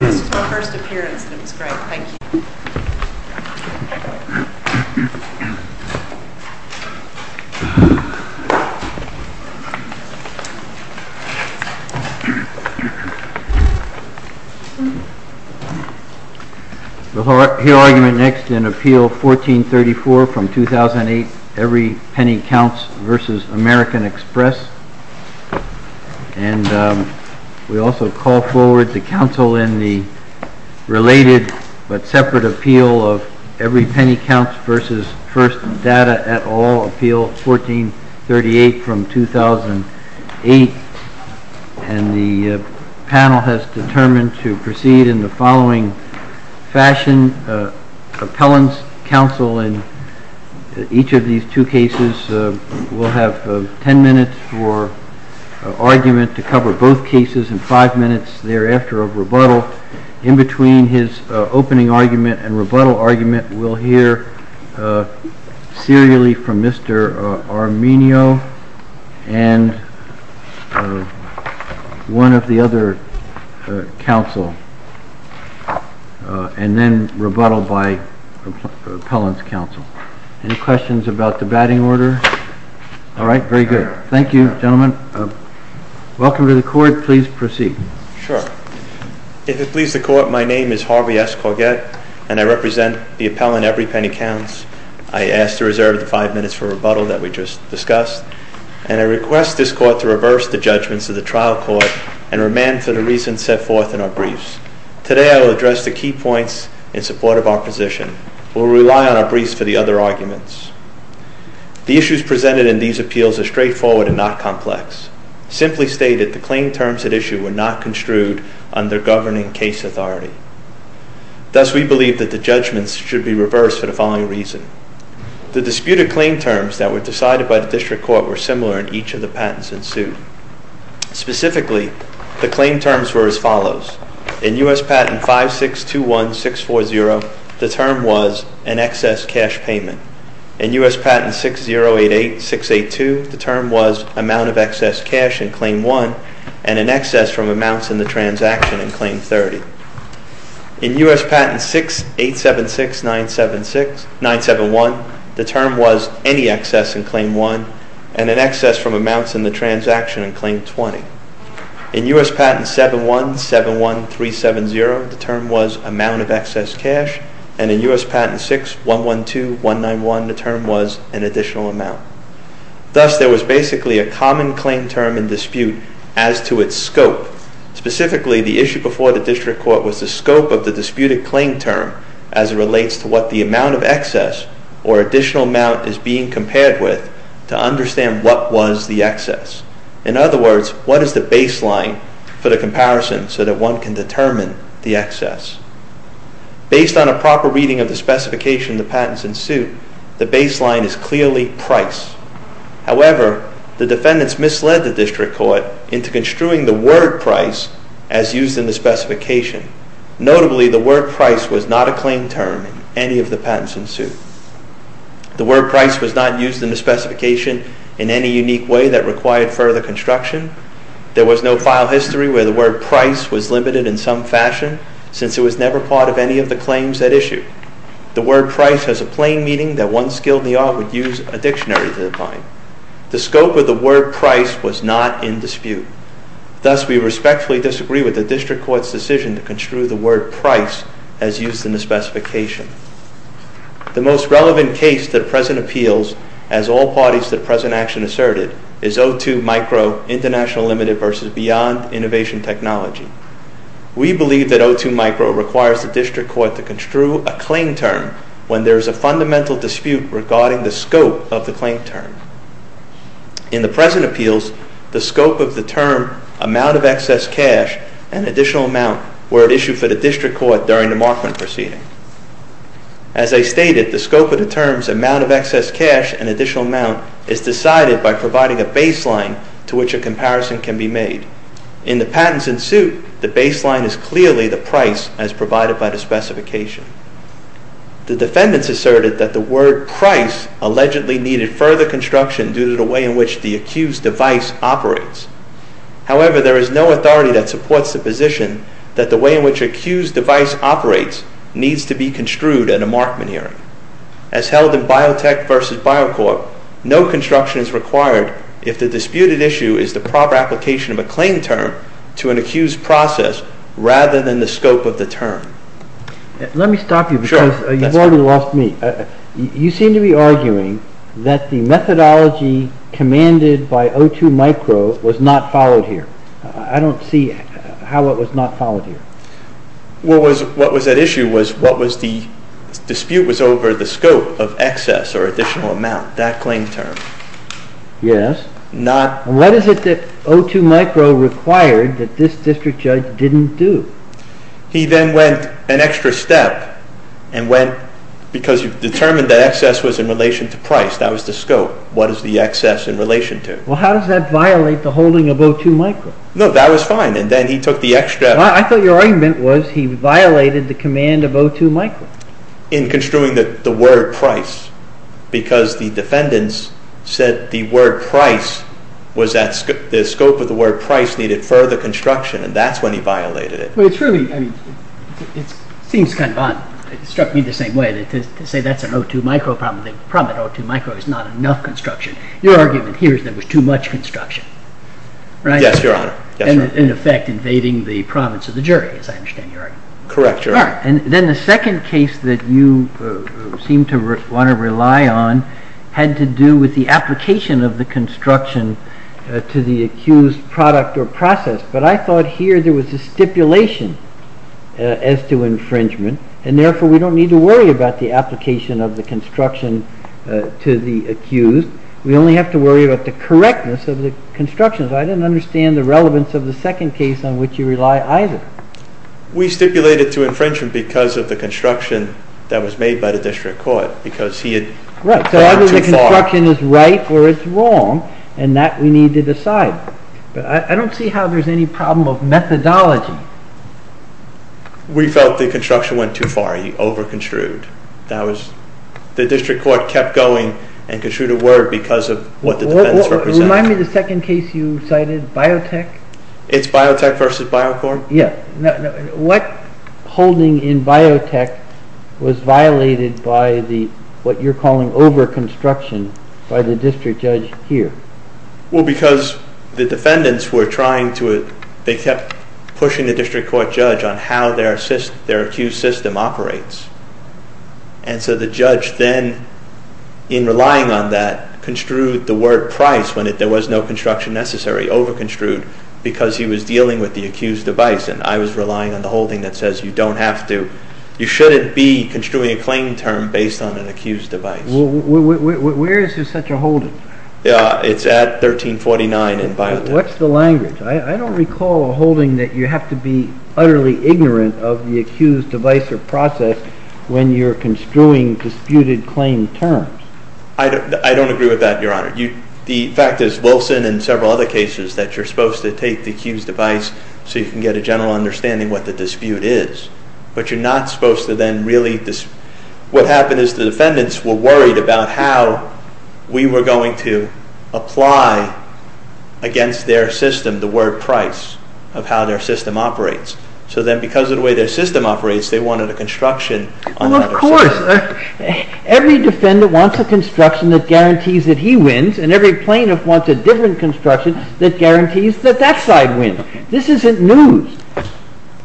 This was my first appearance and it was great. Thank you. We'll hear argument next in Appeal 1434 from 2008, Every Penny Counts v. American Express. And we also call forward the Council in the related but separate appeal of Every Penny Counts v. First Data at All, Appeal 1438 from 2008. And the panel has determined to proceed in the following fashion. Appellant's counsel in each of these two cases will have ten minutes for argument to cover both cases and five minutes thereafter of rebuttal. In between his opening argument and rebuttal argument, we'll hear serially from Mr. Arminio and one of the other counsel, and then rebuttal by Appellant's counsel. Any questions about the batting order? All right, very good. Thank you, gentlemen. Welcome to the court. Please proceed. Sure. If it pleases the court, my name is Harvey S. Corgett, and I represent the appellant, Every Penny Counts. I ask to reserve the five minutes for rebuttal that we just discussed. And I request this court to reverse the judgments of the trial court and remand for the reasons set forth in our briefs. Today I will address the key points in support of our position. We'll rely on our briefs for the other arguments. The issues presented in these appeals are straightforward and not complex. Simply stated, the claim terms at issue were not construed under governing case authority. Thus, we believe that the judgments should be reversed for the following reason. The disputed claim terms that were decided by the district court were similar in each of the patents in suit. Specifically, the claim terms were as follows. In U.S. Patent 5621640, the term was an excess cash payment. In U.S. Patent 6088682, the term was amount of excess cash in Claim 1 and an excess from amounts in the transaction in Claim 30. In U.S. Patent 6876971, the term was any excess in Claim 1 and an excess from amounts in the transaction in Claim 20. In U.S. Patent 7171370, the term was amount of excess cash. And in U.S. Patent 6112191, the term was an additional amount. Thus, there was basically a common claim term in dispute as to its scope. Specifically, the issue before the district court was the scope of the disputed claim term as it relates to what the amount of excess or additional amount is being compared with to understand what was the excess. In other words, what is the baseline for the comparison so that one can determine the excess? Based on a proper reading of the specification of the patents in suit, the baseline is clearly price. However, the defendants misled the district court into construing the word price as used in the specification. Notably, the word price was not a claim term in any of the patents in suit. The word price was not used in the specification in any unique way that required further construction. There was no file history where the word price was limited in some fashion since it was never part of any of the claims at issue. The word price has a plain meaning that one skilled in the art would use a dictionary to define. The scope of the word price was not in dispute. Thus, we respectfully disagree with the district court's decision to construe the word price as used in the specification. The most relevant case that present appeals as all parties to the present action asserted is O2 Micro International Limited versus Beyond Innovation Technology. We believe that O2 Micro requires the district court to construe a claim term when there is a fundamental dispute regarding the scope of the claim term. In the present appeals, the scope of the term amount of excess cash and additional amount were at issue for the district court during the Markman proceeding. As I stated, the scope of the terms amount of excess cash and additional amount is decided by providing a baseline to which a comparison can be made. In the patents in suit, the baseline is clearly the price as provided by the specification. The defendants asserted that the word price allegedly needed further construction due to the way in which the accused device operates. However, there is no authority that supports the position that the way in which accused device operates needs to be construed at a Markman hearing. As held in Biotech versus BioCorp, no construction is required if the disputed issue is the proper application of a claim term to an accused process rather than the scope of the term. Let me stop you because you've already lost me. You seem to be arguing that the methodology commanded by O2 Micro was not followed here. I don't see how it was not followed here. What was at issue was what was the dispute was over the scope of excess or additional amount. That claim term. Yes. Not. What is it that O2 Micro required that this district judge didn't do? He then went an extra step and went because you've determined that excess was in relation to price. That was the scope. What is the excess in relation to? Well, how does that violate the holding of O2 Micro? No, that was fine. And then he took the extra. I thought your argument was he violated the command of O2 Micro. In construing the word price because the defendants said the word price was that the scope of the word price needed further construction and that's when he violated it. It seems kind of odd. It struck me the same way to say that's an O2 Micro problem. The problem with O2 Micro is not enough construction. Your argument here is there was too much construction. Yes, Your Honor. In effect invading the province of the jury as I understand your argument. Correct, Your Honor. Then the second case that you seem to want to rely on had to do with the application of the construction to the accused product or process. But I thought here there was a stipulation as to infringement and therefore we don't need to worry about the application of the construction to the accused. We only have to worry about the correctness of the construction. I didn't understand the relevance of the second case on which you rely either. We stipulated to infringement because of the construction that was made by the district court because he had gone too far. Right, so either the construction is right or it's wrong and that we need to decide. But I don't see how there's any problem of methodology. We felt the construction went too far. He over construed. The district court kept going and construed a word because of what the defendants represented. Remind me of the second case you cited, Biotech. It's Biotech versus Bio Corp? Yeah. What holding in Biotech was violated by what you're calling over construction by the district judge here? Well because the defendants were trying to, they kept pushing the district court judge on how their accused system operates. And so the judge then, in relying on that, construed the word price when there was no construction necessary. Over construed because he was dealing with the accused device and I was relying on the holding that says you don't have to, you shouldn't be construing a claim term based on an accused device. Where is there such a holding? It's at 1349 in Biotech. What's the language? I don't recall a holding that you have to be utterly ignorant of the accused device or process when you're construing disputed claim terms. I don't agree with that, Your Honor. The fact is Wilson and several other cases that you're supposed to take the accused device so you can get a general understanding what the dispute is. But you're not supposed to then really, what happened is the defendants were worried about how we were going to apply against their system the word price of how their system operates. So then because of the way their system operates they wanted a construction on that. Of course. Every defendant wants a construction that guarantees that he wins and every plaintiff wants a different construction that guarantees that that side wins. This isn't news.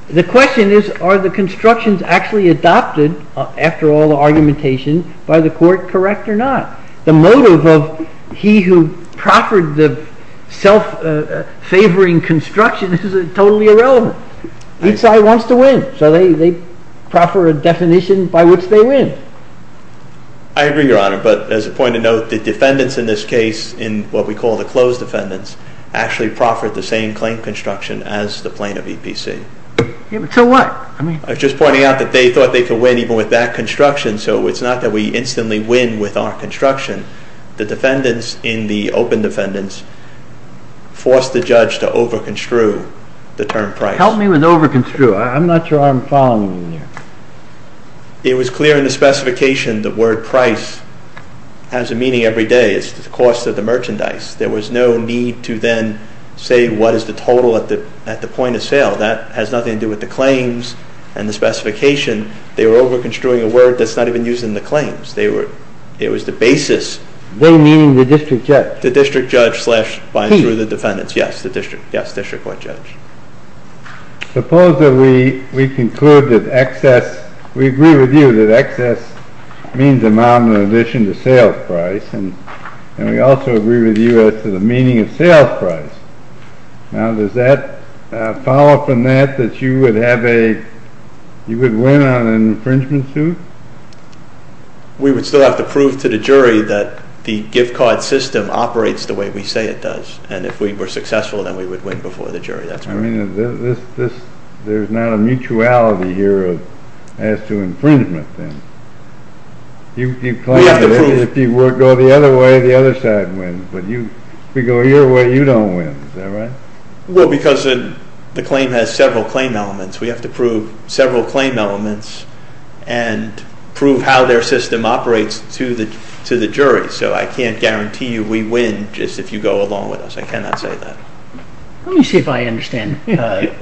The question is are the constructions actually adopted after all the argumentation by the court correct or not? The motive of he who proffered the self-favoring construction is totally irrelevant. Each side wants to win so they proffer a definition by which they win. I agree, Your Honor, but as a point of note the defendants in this case in what we call the closed defendants actually proffered the same claim construction as the plaintiff EPC. So what? I was just pointing out that they thought they could win even with that construction so it's not that we instantly win with our construction. The defendants in the open defendants forced the judge to over construe the term price. Help me with over construe. I'm not sure I'm following you here. It was clear in the specification the word price has a meaning every day. It's the cost of the merchandise. There was no need to then say what is the total at the point of sale. That has nothing to do with the claims and the specification. They were over construing a word that's not even used in the claims. It was the basis. They mean the district judge. The district judge slash by and through the defendants. Yes, the district court judge. Suppose that we conclude that excess, we agree with you that excess means amount in addition to sales price and we also agree with you as to the meaning of sales price. Now does that follow from that that you would win on an infringement suit? We would still have to prove to the jury that the gift card system operates the way we say it does and if we were successful then we would win before the jury. There's not a mutuality here as to infringement then. If you go the other way, the other side wins. If we go your way, you don't win. Is that right? Well, because the claim has several claim elements. We have to prove several claim elements and prove how their system operates to the jury. So I can't guarantee you we win just if you go along with us. I cannot say that. Let me see if I understand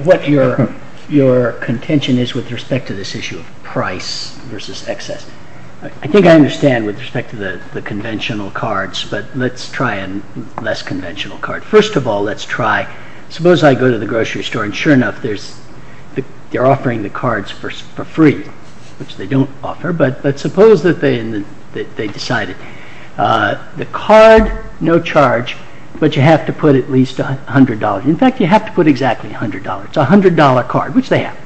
what your contention is with respect to this issue of price versus excess. I think I understand with respect to the conventional cards, but let's try a less conventional card. First of all, let's try, suppose I go to the grocery store and sure enough they're offering the cards for free, which they don't offer, but suppose that they decided. The card, no charge, but you have to put at least $100. In fact, you have to put exactly $100. It's a $100 card, which they have.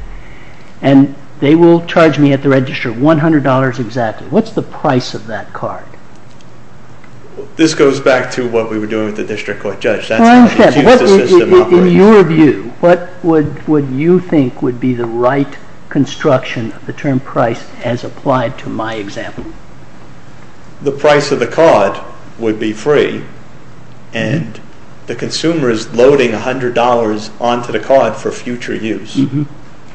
And they will charge me at the register $100 exactly. What's the price of that card? This goes back to what we were doing with the district court judge. In your view, what would you think would be the right construction of the term price as applied to my example? The price of the card would be free and the consumer is loading $100 onto the card for future use.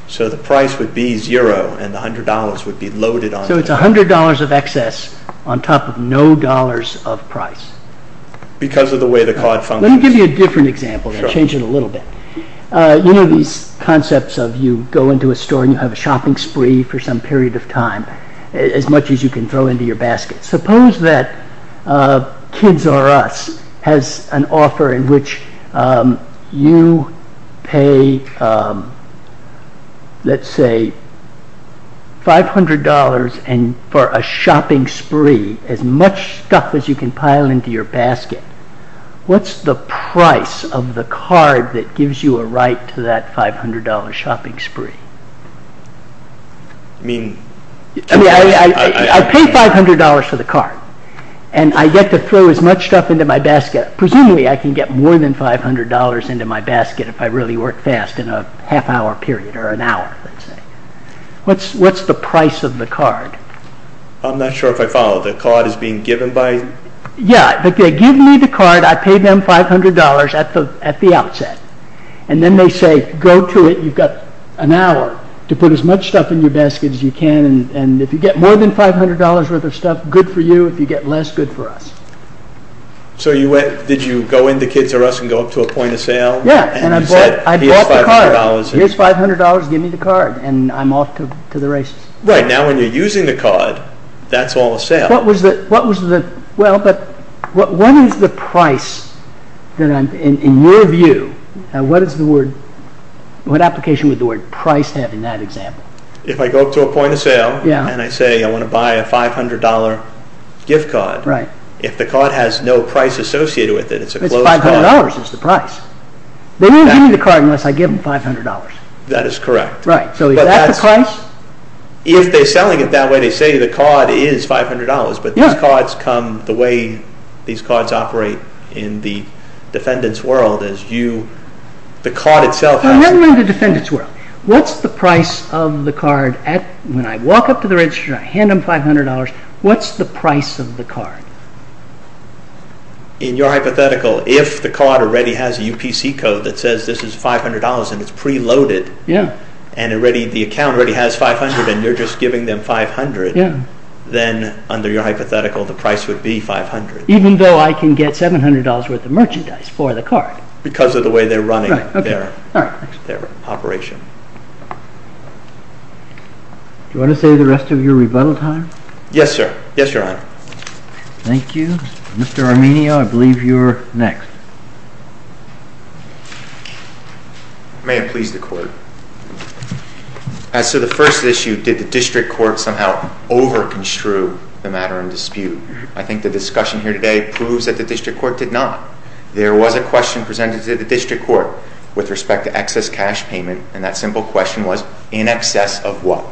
So the price would be zero and the $100 would be loaded onto the card. So it's $100 of excess on top of no dollars of price. Because of the way the card functions. Let me give you a different example and change it a little bit. You know these concepts of you go into a store and you have a shopping spree for some period of time, as much as you can throw into your basket. Suppose that Kids R Us has an offer in which you pay, let's say, $500 for a shopping spree, as much stuff as you can pile into your basket. What's the price of the card that gives you a right to that $500 shopping spree? I pay $500 for the card and I get to throw as much stuff into my basket. Presumably I can get more than $500 into my basket if I really work fast in a half hour period or an hour. What's the price of the card? I'm not sure if I follow. The card is being given by... Yeah, but they give me the card. I pay them $500 at the outset. And then they say, go to it. You've got an hour to put as much stuff in your basket as you can. And if you get more than $500 worth of stuff, good for you. If you get less, good for us. So did you go into Kids R Us and go up to a point of sale? Yeah, and I bought the card. Here's $500. Give me the card. And I'm off to the races. Right. Now when you're using the card, that's all a sale. What is the price, in your view, what application would the word price have in that example? If I go up to a point of sale and I say I want to buy a $500 gift card. Right. If the card has no price associated with it, it's a closed card. It's $500 is the price. They won't give me the card unless I give them $500. That is correct. Right. So is that the price? If they're selling it that way, they say the card is $500. Yeah. But these cards come, the way these cards operate in the defendant's world is you, the card itself has... I'm wondering in the defendant's world, what's the price of the card when I walk up to the register and I hand them $500? What's the price of the card? In your hypothetical, if the card already has a UPC code that says this is $500 and it's preloaded... Yeah. ...and the account already has $500 and you're just giving them $500... Yeah. ...then under your hypothetical, the price would be $500. Even though I can get $700 worth of merchandise for the card. Because of the way they're running their operation. Right. Okay. All right. Thanks. Do you want to save the rest of your rebuttal time? Yes, sir. Yes, Your Honor. Thank you. Mr. Arminio, I believe you're next. May it please the Court. As to the first issue, did the District Court somehow over-construe the matter in dispute? I think the discussion here today proves that the District Court did not. There was a question presented to the District Court with respect to excess cash payment, and that simple question was, in excess of what?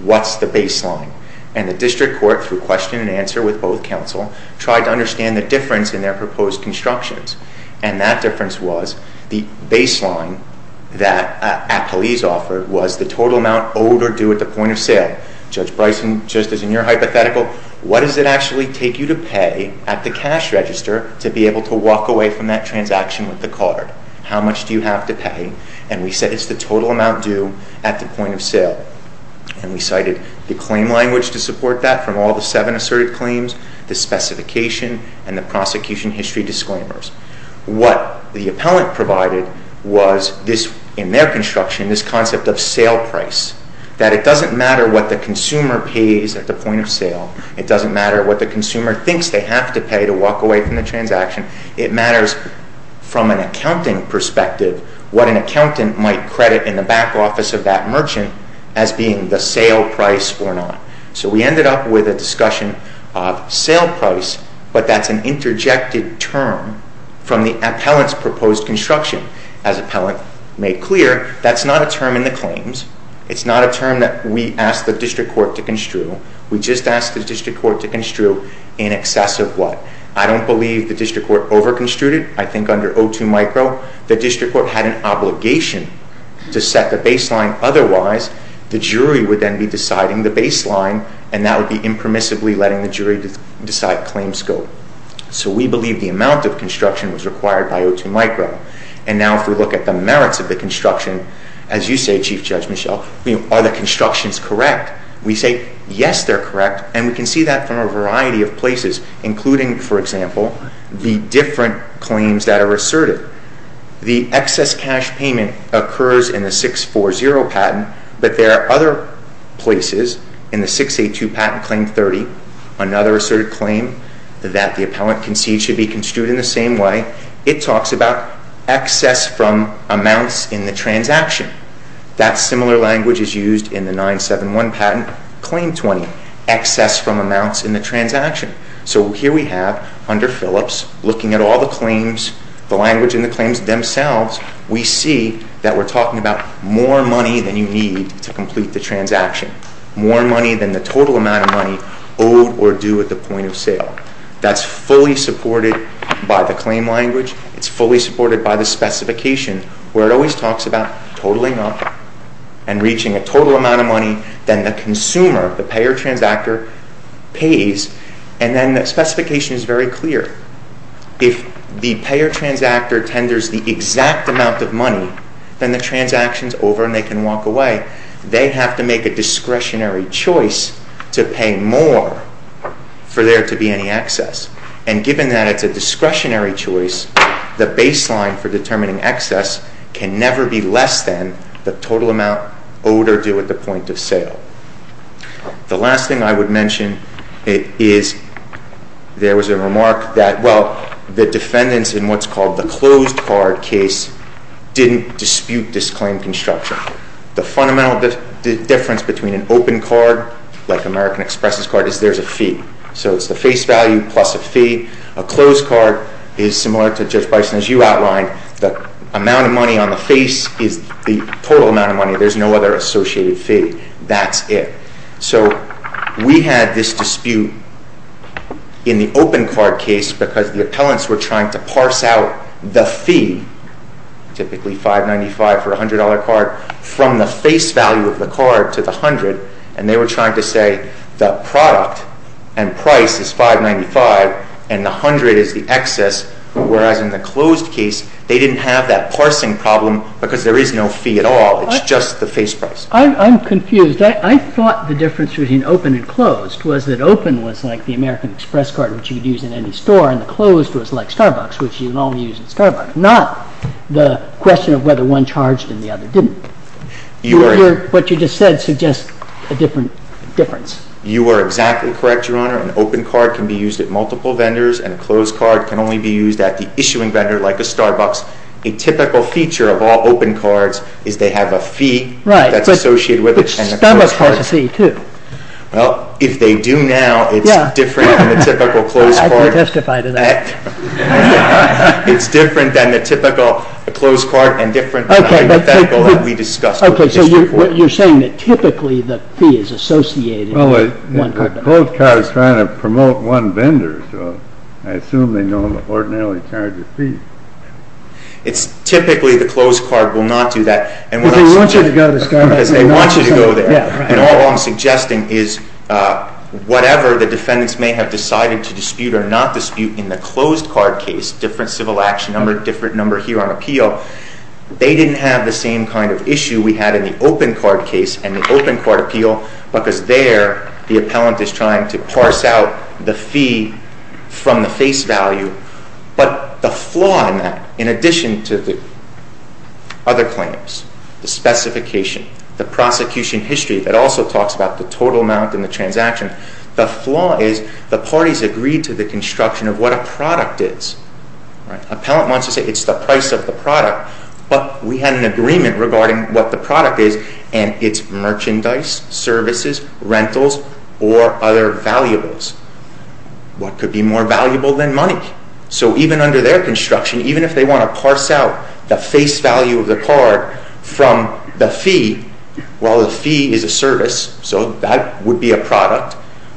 What's the baseline? And the District Court, through question and answer with both counsel, tried to understand the difference in their proposed constructions. And that difference was, the baseline that appellees offered was the total amount owed or due at the point of sale. Judge Bryson, just as in your hypothetical, what does it actually take you to pay at the cash register to be able to walk away from that transaction with the card? How much do you have to pay? And we said it's the total amount due at the point of sale. And we cited the claim language to support that from all the seven asserted claims, the specification, and the prosecution history disclaimers. What the appellant provided was, in their construction, this concept of sale price, that it doesn't matter what the consumer pays at the point of sale. It doesn't matter what the consumer thinks they have to pay to walk away from the transaction. It matters, from an accounting perspective, what an accountant might credit in the back office of that merchant as being the sale price or not. So we ended up with a discussion of sale price, but that's an interjected term from the appellant's proposed construction. As appellant made clear, that's not a term in the claims. It's not a term that we asked the district court to construe. We just asked the district court to construe in excess of what? I don't believe the district court overconstrued it. I think under O2 micro, the district court had an obligation to set the baseline. Otherwise, the jury would then be deciding the baseline, and that would be impermissibly letting the jury decide claim scope. So we believe the amount of construction was required by O2 micro. And now if we look at the merits of the construction, as you say, Chief Judge Michel, are the constructions correct? We say, yes, they're correct, and we can see that from a variety of places, including, for example, the different claims that are asserted. The excess cash payment occurs in the 640 patent, but there are other places in the 682 patent claim 30, another asserted claim that the appellant concedes should be construed in the same way. It talks about excess from amounts in the transaction. That similar language is used in the 971 patent claim 20, excess from amounts in the transaction. So here we have, under Phillips, looking at all the claims, the language in the claims themselves, we see that we're talking about more money than you need to complete the transaction, more money than the total amount of money owed or due at the point of sale. That's fully supported by the claim language. It's fully supported by the specification, where it always talks about totaling up and reaching a total amount of money than the consumer, the payer transactor, pays. And then the specification is very clear. If the payer transactor tenders the exact amount of money, then the transaction's over and they can walk away. They have to make a discretionary choice to pay more for there to be any excess. And given that it's a discretionary choice, the baseline for determining excess can never be less than the total amount owed or due at the point of sale. The last thing I would mention is there was a remark that, well, the defendants in what's called the closed card case didn't dispute this claim construction. The fundamental difference between an open card, like American Express's card, is there's a fee. So it's the face value plus a fee. A closed card is similar to Judge Bison's. You outlined the amount of money on the face is the total amount of money. There's no other associated fee. That's it. So we had this dispute in the open card case because the appellants were trying to parse out the fee, typically $595 for a $100 card, from the face value of the card to the $100. And they were trying to say the product and price is $595 and the $100 is the excess, whereas in the closed case they didn't have that parsing problem because there is no fee at all. It's just the face price. I'm confused. I thought the difference between open and closed was that open was like the American Express card, which you could use in any store, and the closed was like Starbucks, which you can only use at Starbucks. Not the question of whether one charged and the other didn't. What you just said suggests a different difference. You are exactly correct, Your Honor. An open card can be used at multiple vendors and a closed card can only be used at the issuing vendor like a Starbucks. A typical feature of all open cards is they have a fee that's associated with it. Which Starbucks has a fee, too. Well, if they do now, it's different than the typical closed card. I can testify to that. It's different than the typical closed card and different than the hypothetical that we discussed. Okay, so you're saying that typically the fee is associated with one vendor. Well, a closed card is trying to promote one vendor, so I assume they don't ordinarily charge a fee. Typically the closed card will not do that. Because they want you to go to Starbucks. Because they want you to go there. All I'm suggesting is whatever the defendants may have decided to dispute or not dispute in the closed card case, different civil action number, different number here on appeal, they didn't have the same kind of issue we had in the open card case and the open card appeal because there the appellant is trying to parse out the fee from the face value. But the flaw in that, in addition to the other claims, the specification, the prosecution history that also talks about the total amount in the transaction, the flaw is the parties agreed to the construction of what a product is. Appellant wants to say it's the price of the product, but we had an agreement regarding what the product is, and it's merchandise, services, rentals, or other valuables. What could be more valuable than money? So even under their construction, even if they want to parse out the face value of the card from the fee, well, the fee is a service, so that would be a product,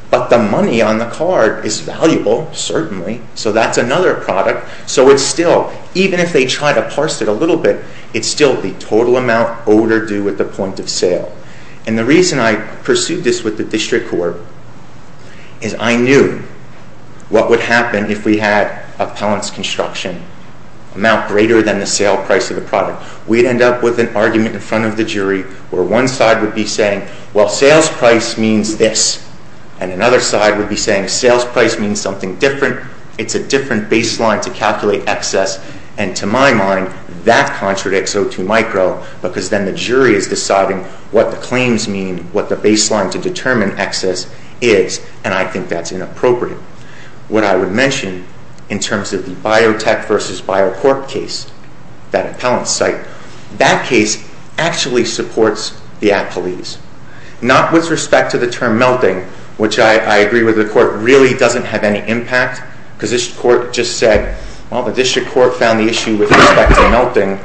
but the money on the card is valuable, certainly, so that's another product. So it's still, even if they try to parse it a little bit, it's still the total amount owed or due at the point of sale. And the reason I pursued this with the district court is I knew what would happen if we had appellant's construction amount greater than the sale price of the product. We'd end up with an argument in front of the jury where one side would be saying, well, sales price means this, and another side would be saying, sales price means something different, it's a different baseline to calculate excess, and to my mind, that contradicts O2micro because then the jury is deciding what the claims mean, what the baseline to determine excess is, and I think that's inappropriate. What I would mention in terms of the biotech versus biocorp case, that appellant's site, that case actually supports the appellees, not with respect to the term melting, which I agree with the court, really doesn't have any impact because this court just said, well, the district court found the issue with respect to melting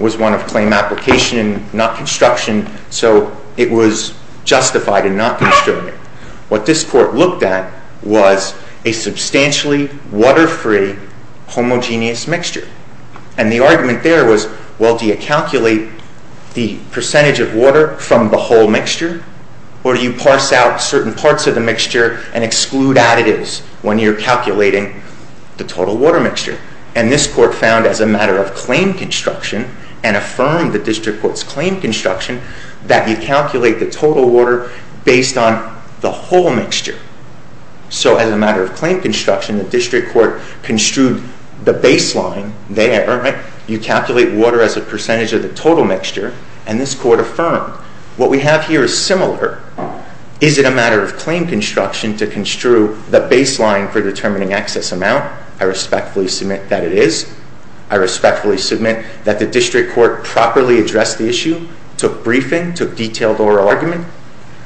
was one of claim application, not construction, so it was justified in not constructing. What this court looked at was a substantially water-free homogeneous mixture, and the argument there was, well, do you calculate the percentage of water from the whole mixture, or do you parse out certain parts of the mixture and exclude additives when you're calculating the total water mixture, and this court found as a matter of claim construction and affirmed the district court's claim construction that you calculate the total water based on the whole mixture. So as a matter of claim construction, the district court construed the baseline there. You calculate water as a percentage of the total mixture, and this court affirmed. What we have here is similar. Is it a matter of claim construction to construe the baseline for determining excess amount? I respectfully submit that it is. I respectfully submit that the district court properly addressed the issue, took briefing, took detailed oral argument,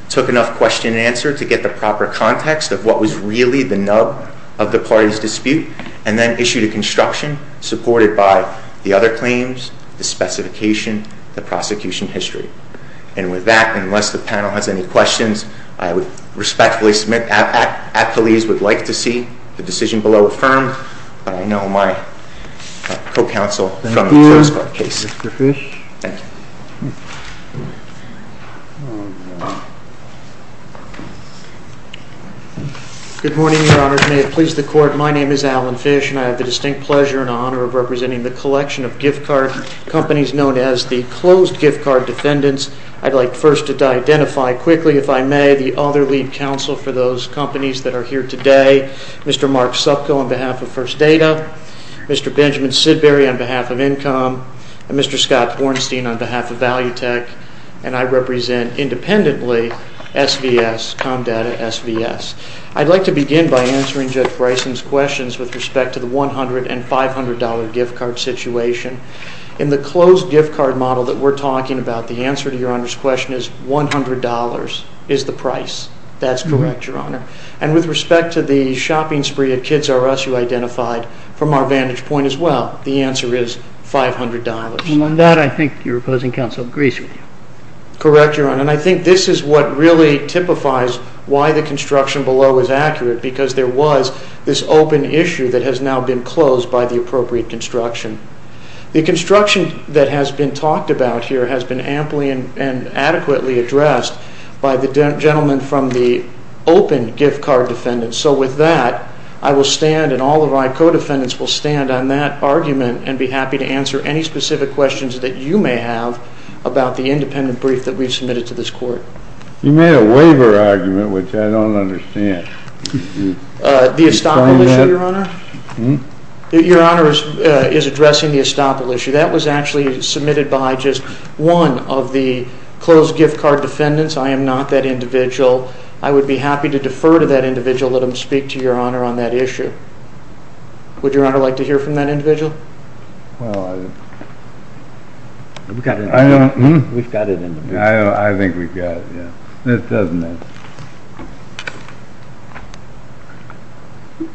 took enough question and answer to get the proper context of what was really the nub of the party's dispute, and then issued a construction supported by the other claims, the specification, the prosecution history. And with that, unless the panel has any questions, I would respectfully submit at police would like to see the decision below affirmed, but I know my co-counsel is coming to us by case. Thank you, Mr. Fish. Thank you. Good morning, Your Honors. May it please the court, my name is Alan Fish, and I have the distinct pleasure and honor of representing the collection of gift card companies known as the Closed Gift Card Defendants. I'd like first to identify quickly, if I may, the other lead counsel for those companies that are here today, Mr. Mark Supco on behalf of First Data, Mr. Benjamin Sidbury on behalf of Incom, and Mr. Scott Hornstein on behalf of Value Tech, and I represent independently, SVS, Comdata SVS. I'd like to begin by answering Judge Bryson's questions with respect to the $100 and $500 gift card situation. In the Closed Gift Card model that we're talking about, the answer to Your Honor's question is $100 is the price. That's correct, Your Honor. And with respect to the shopping spree at Kids R Us you identified, from our vantage point as well, the answer is $500. And on that, I think your opposing counsel agrees with you. Correct, Your Honor. And I think this is what really typifies why the construction below is accurate, because there was this open issue that has now been closed by the appropriate construction. The construction that has been talked about here has been amply and adequately addressed by the gentleman from the open gift card defendant. So with that, I will stand and all of my co-defendants will stand on that argument and be happy to answer any specific questions that you may have about the independent brief that we've submitted to this court. You made a waiver argument, which I don't understand. The estoppel issue, Your Honor? Your Honor is addressing the estoppel issue. That was actually submitted by just one of the closed gift card defendants. I am not that individual. I would be happy to defer to that individual and let him speak to Your Honor on that issue. Would Your Honor like to hear from that individual? Well, we've got it in the brief. I think we've got it, yes. It doesn't matter.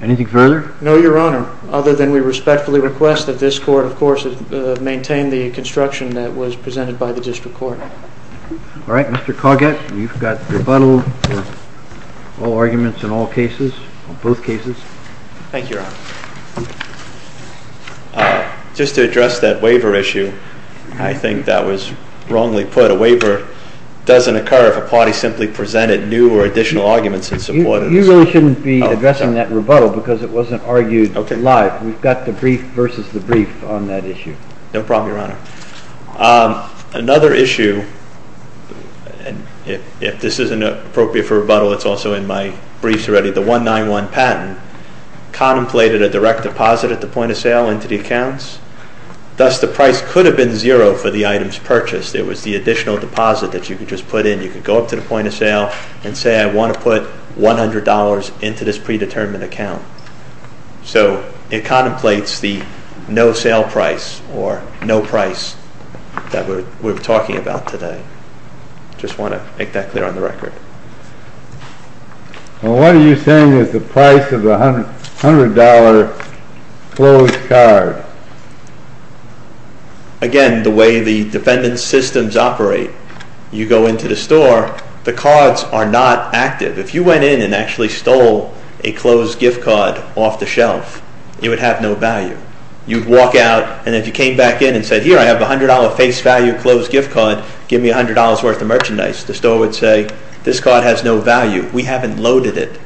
Anything further? No, Your Honor. Other than we respectfully request that this court, of course, maintain the construction that was presented by the district court. All right, Mr. Coggett, you've got rebuttal for all arguments in all cases, both cases. Thank you, Your Honor. Just to address that waiver issue, I think that was wrongly put. A waiver doesn't occur if a party simply presented new or additional arguments in support of this. We really shouldn't be addressing that rebuttal because it wasn't argued live. We've got the brief versus the brief on that issue. No problem, Your Honor. Another issue, and if this isn't appropriate for rebuttal, it's also in my briefs already. The 191 patent contemplated a direct deposit at the point of sale into the accounts. Thus, the price could have been zero for the items purchased. It was the additional deposit that you could just put in. You could go up to the point of sale and say, I want to put $100 into this predetermined account. So it contemplates the no-sale price or no price that we're talking about today. I just want to make that clear on the record. Well, what are you saying is the price of the $100 closed card? Again, the way the defendant's systems operate, you go into the store, the cards are not active. If you went in and actually stole a closed gift card off the shelf, it would have no value. You'd walk out, and if you came back in and said, here, I have a $100 face value closed gift card. Give me $100 worth of merchandise. The store would say, this card has no value. We haven't loaded it.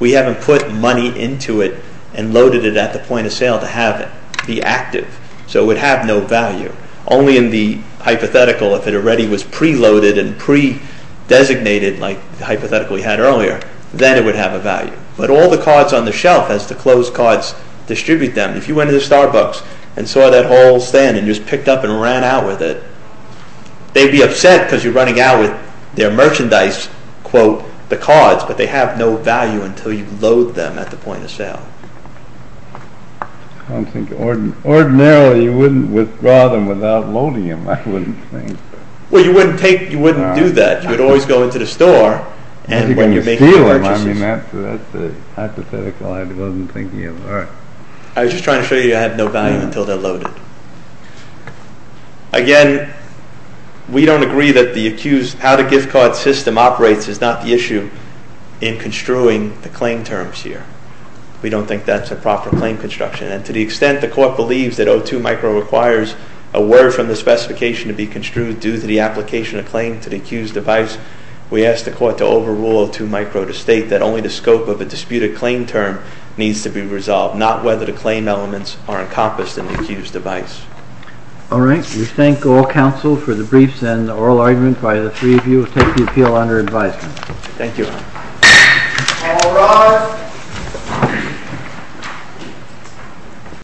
We haven't put money into it and loaded it at the point of sale to have it. Be active. So it would have no value. Only in the hypothetical, if it already was pre-loaded and pre-designated like the hypothetical we had earlier, then it would have a value. But all the cards on the shelf as the closed cards distribute them, if you went into Starbucks and saw that whole stand and just picked up and ran out with it, they'd be upset because you're running out with their merchandise, quote, the cards, but they have no value until you load them at the point of sale. I don't think, ordinarily you wouldn't withdraw them without loading them, I wouldn't think. Well, you wouldn't take, you wouldn't do that. You would always go into the store and when you're making purchases. I mean, that's the hypothetical. I wasn't thinking of that. I was just trying to show you it had no value until they're loaded. Again, we don't agree that the accused, how the gift card system operates is not the issue in construing the claim terms here. We don't think that's a proper claim construction. And to the extent the court believes that O2 micro requires a word from the specification to be construed due to the application of claim to the accused device, we ask the court to overrule O2 micro to state that only the scope of a disputed claim term needs to be resolved, not whether the claim elements are encompassed in the accused device. All right. We thank all counsel for the briefs and oral argument. The three of you will take the appeal under advisement. Thank you. All rise.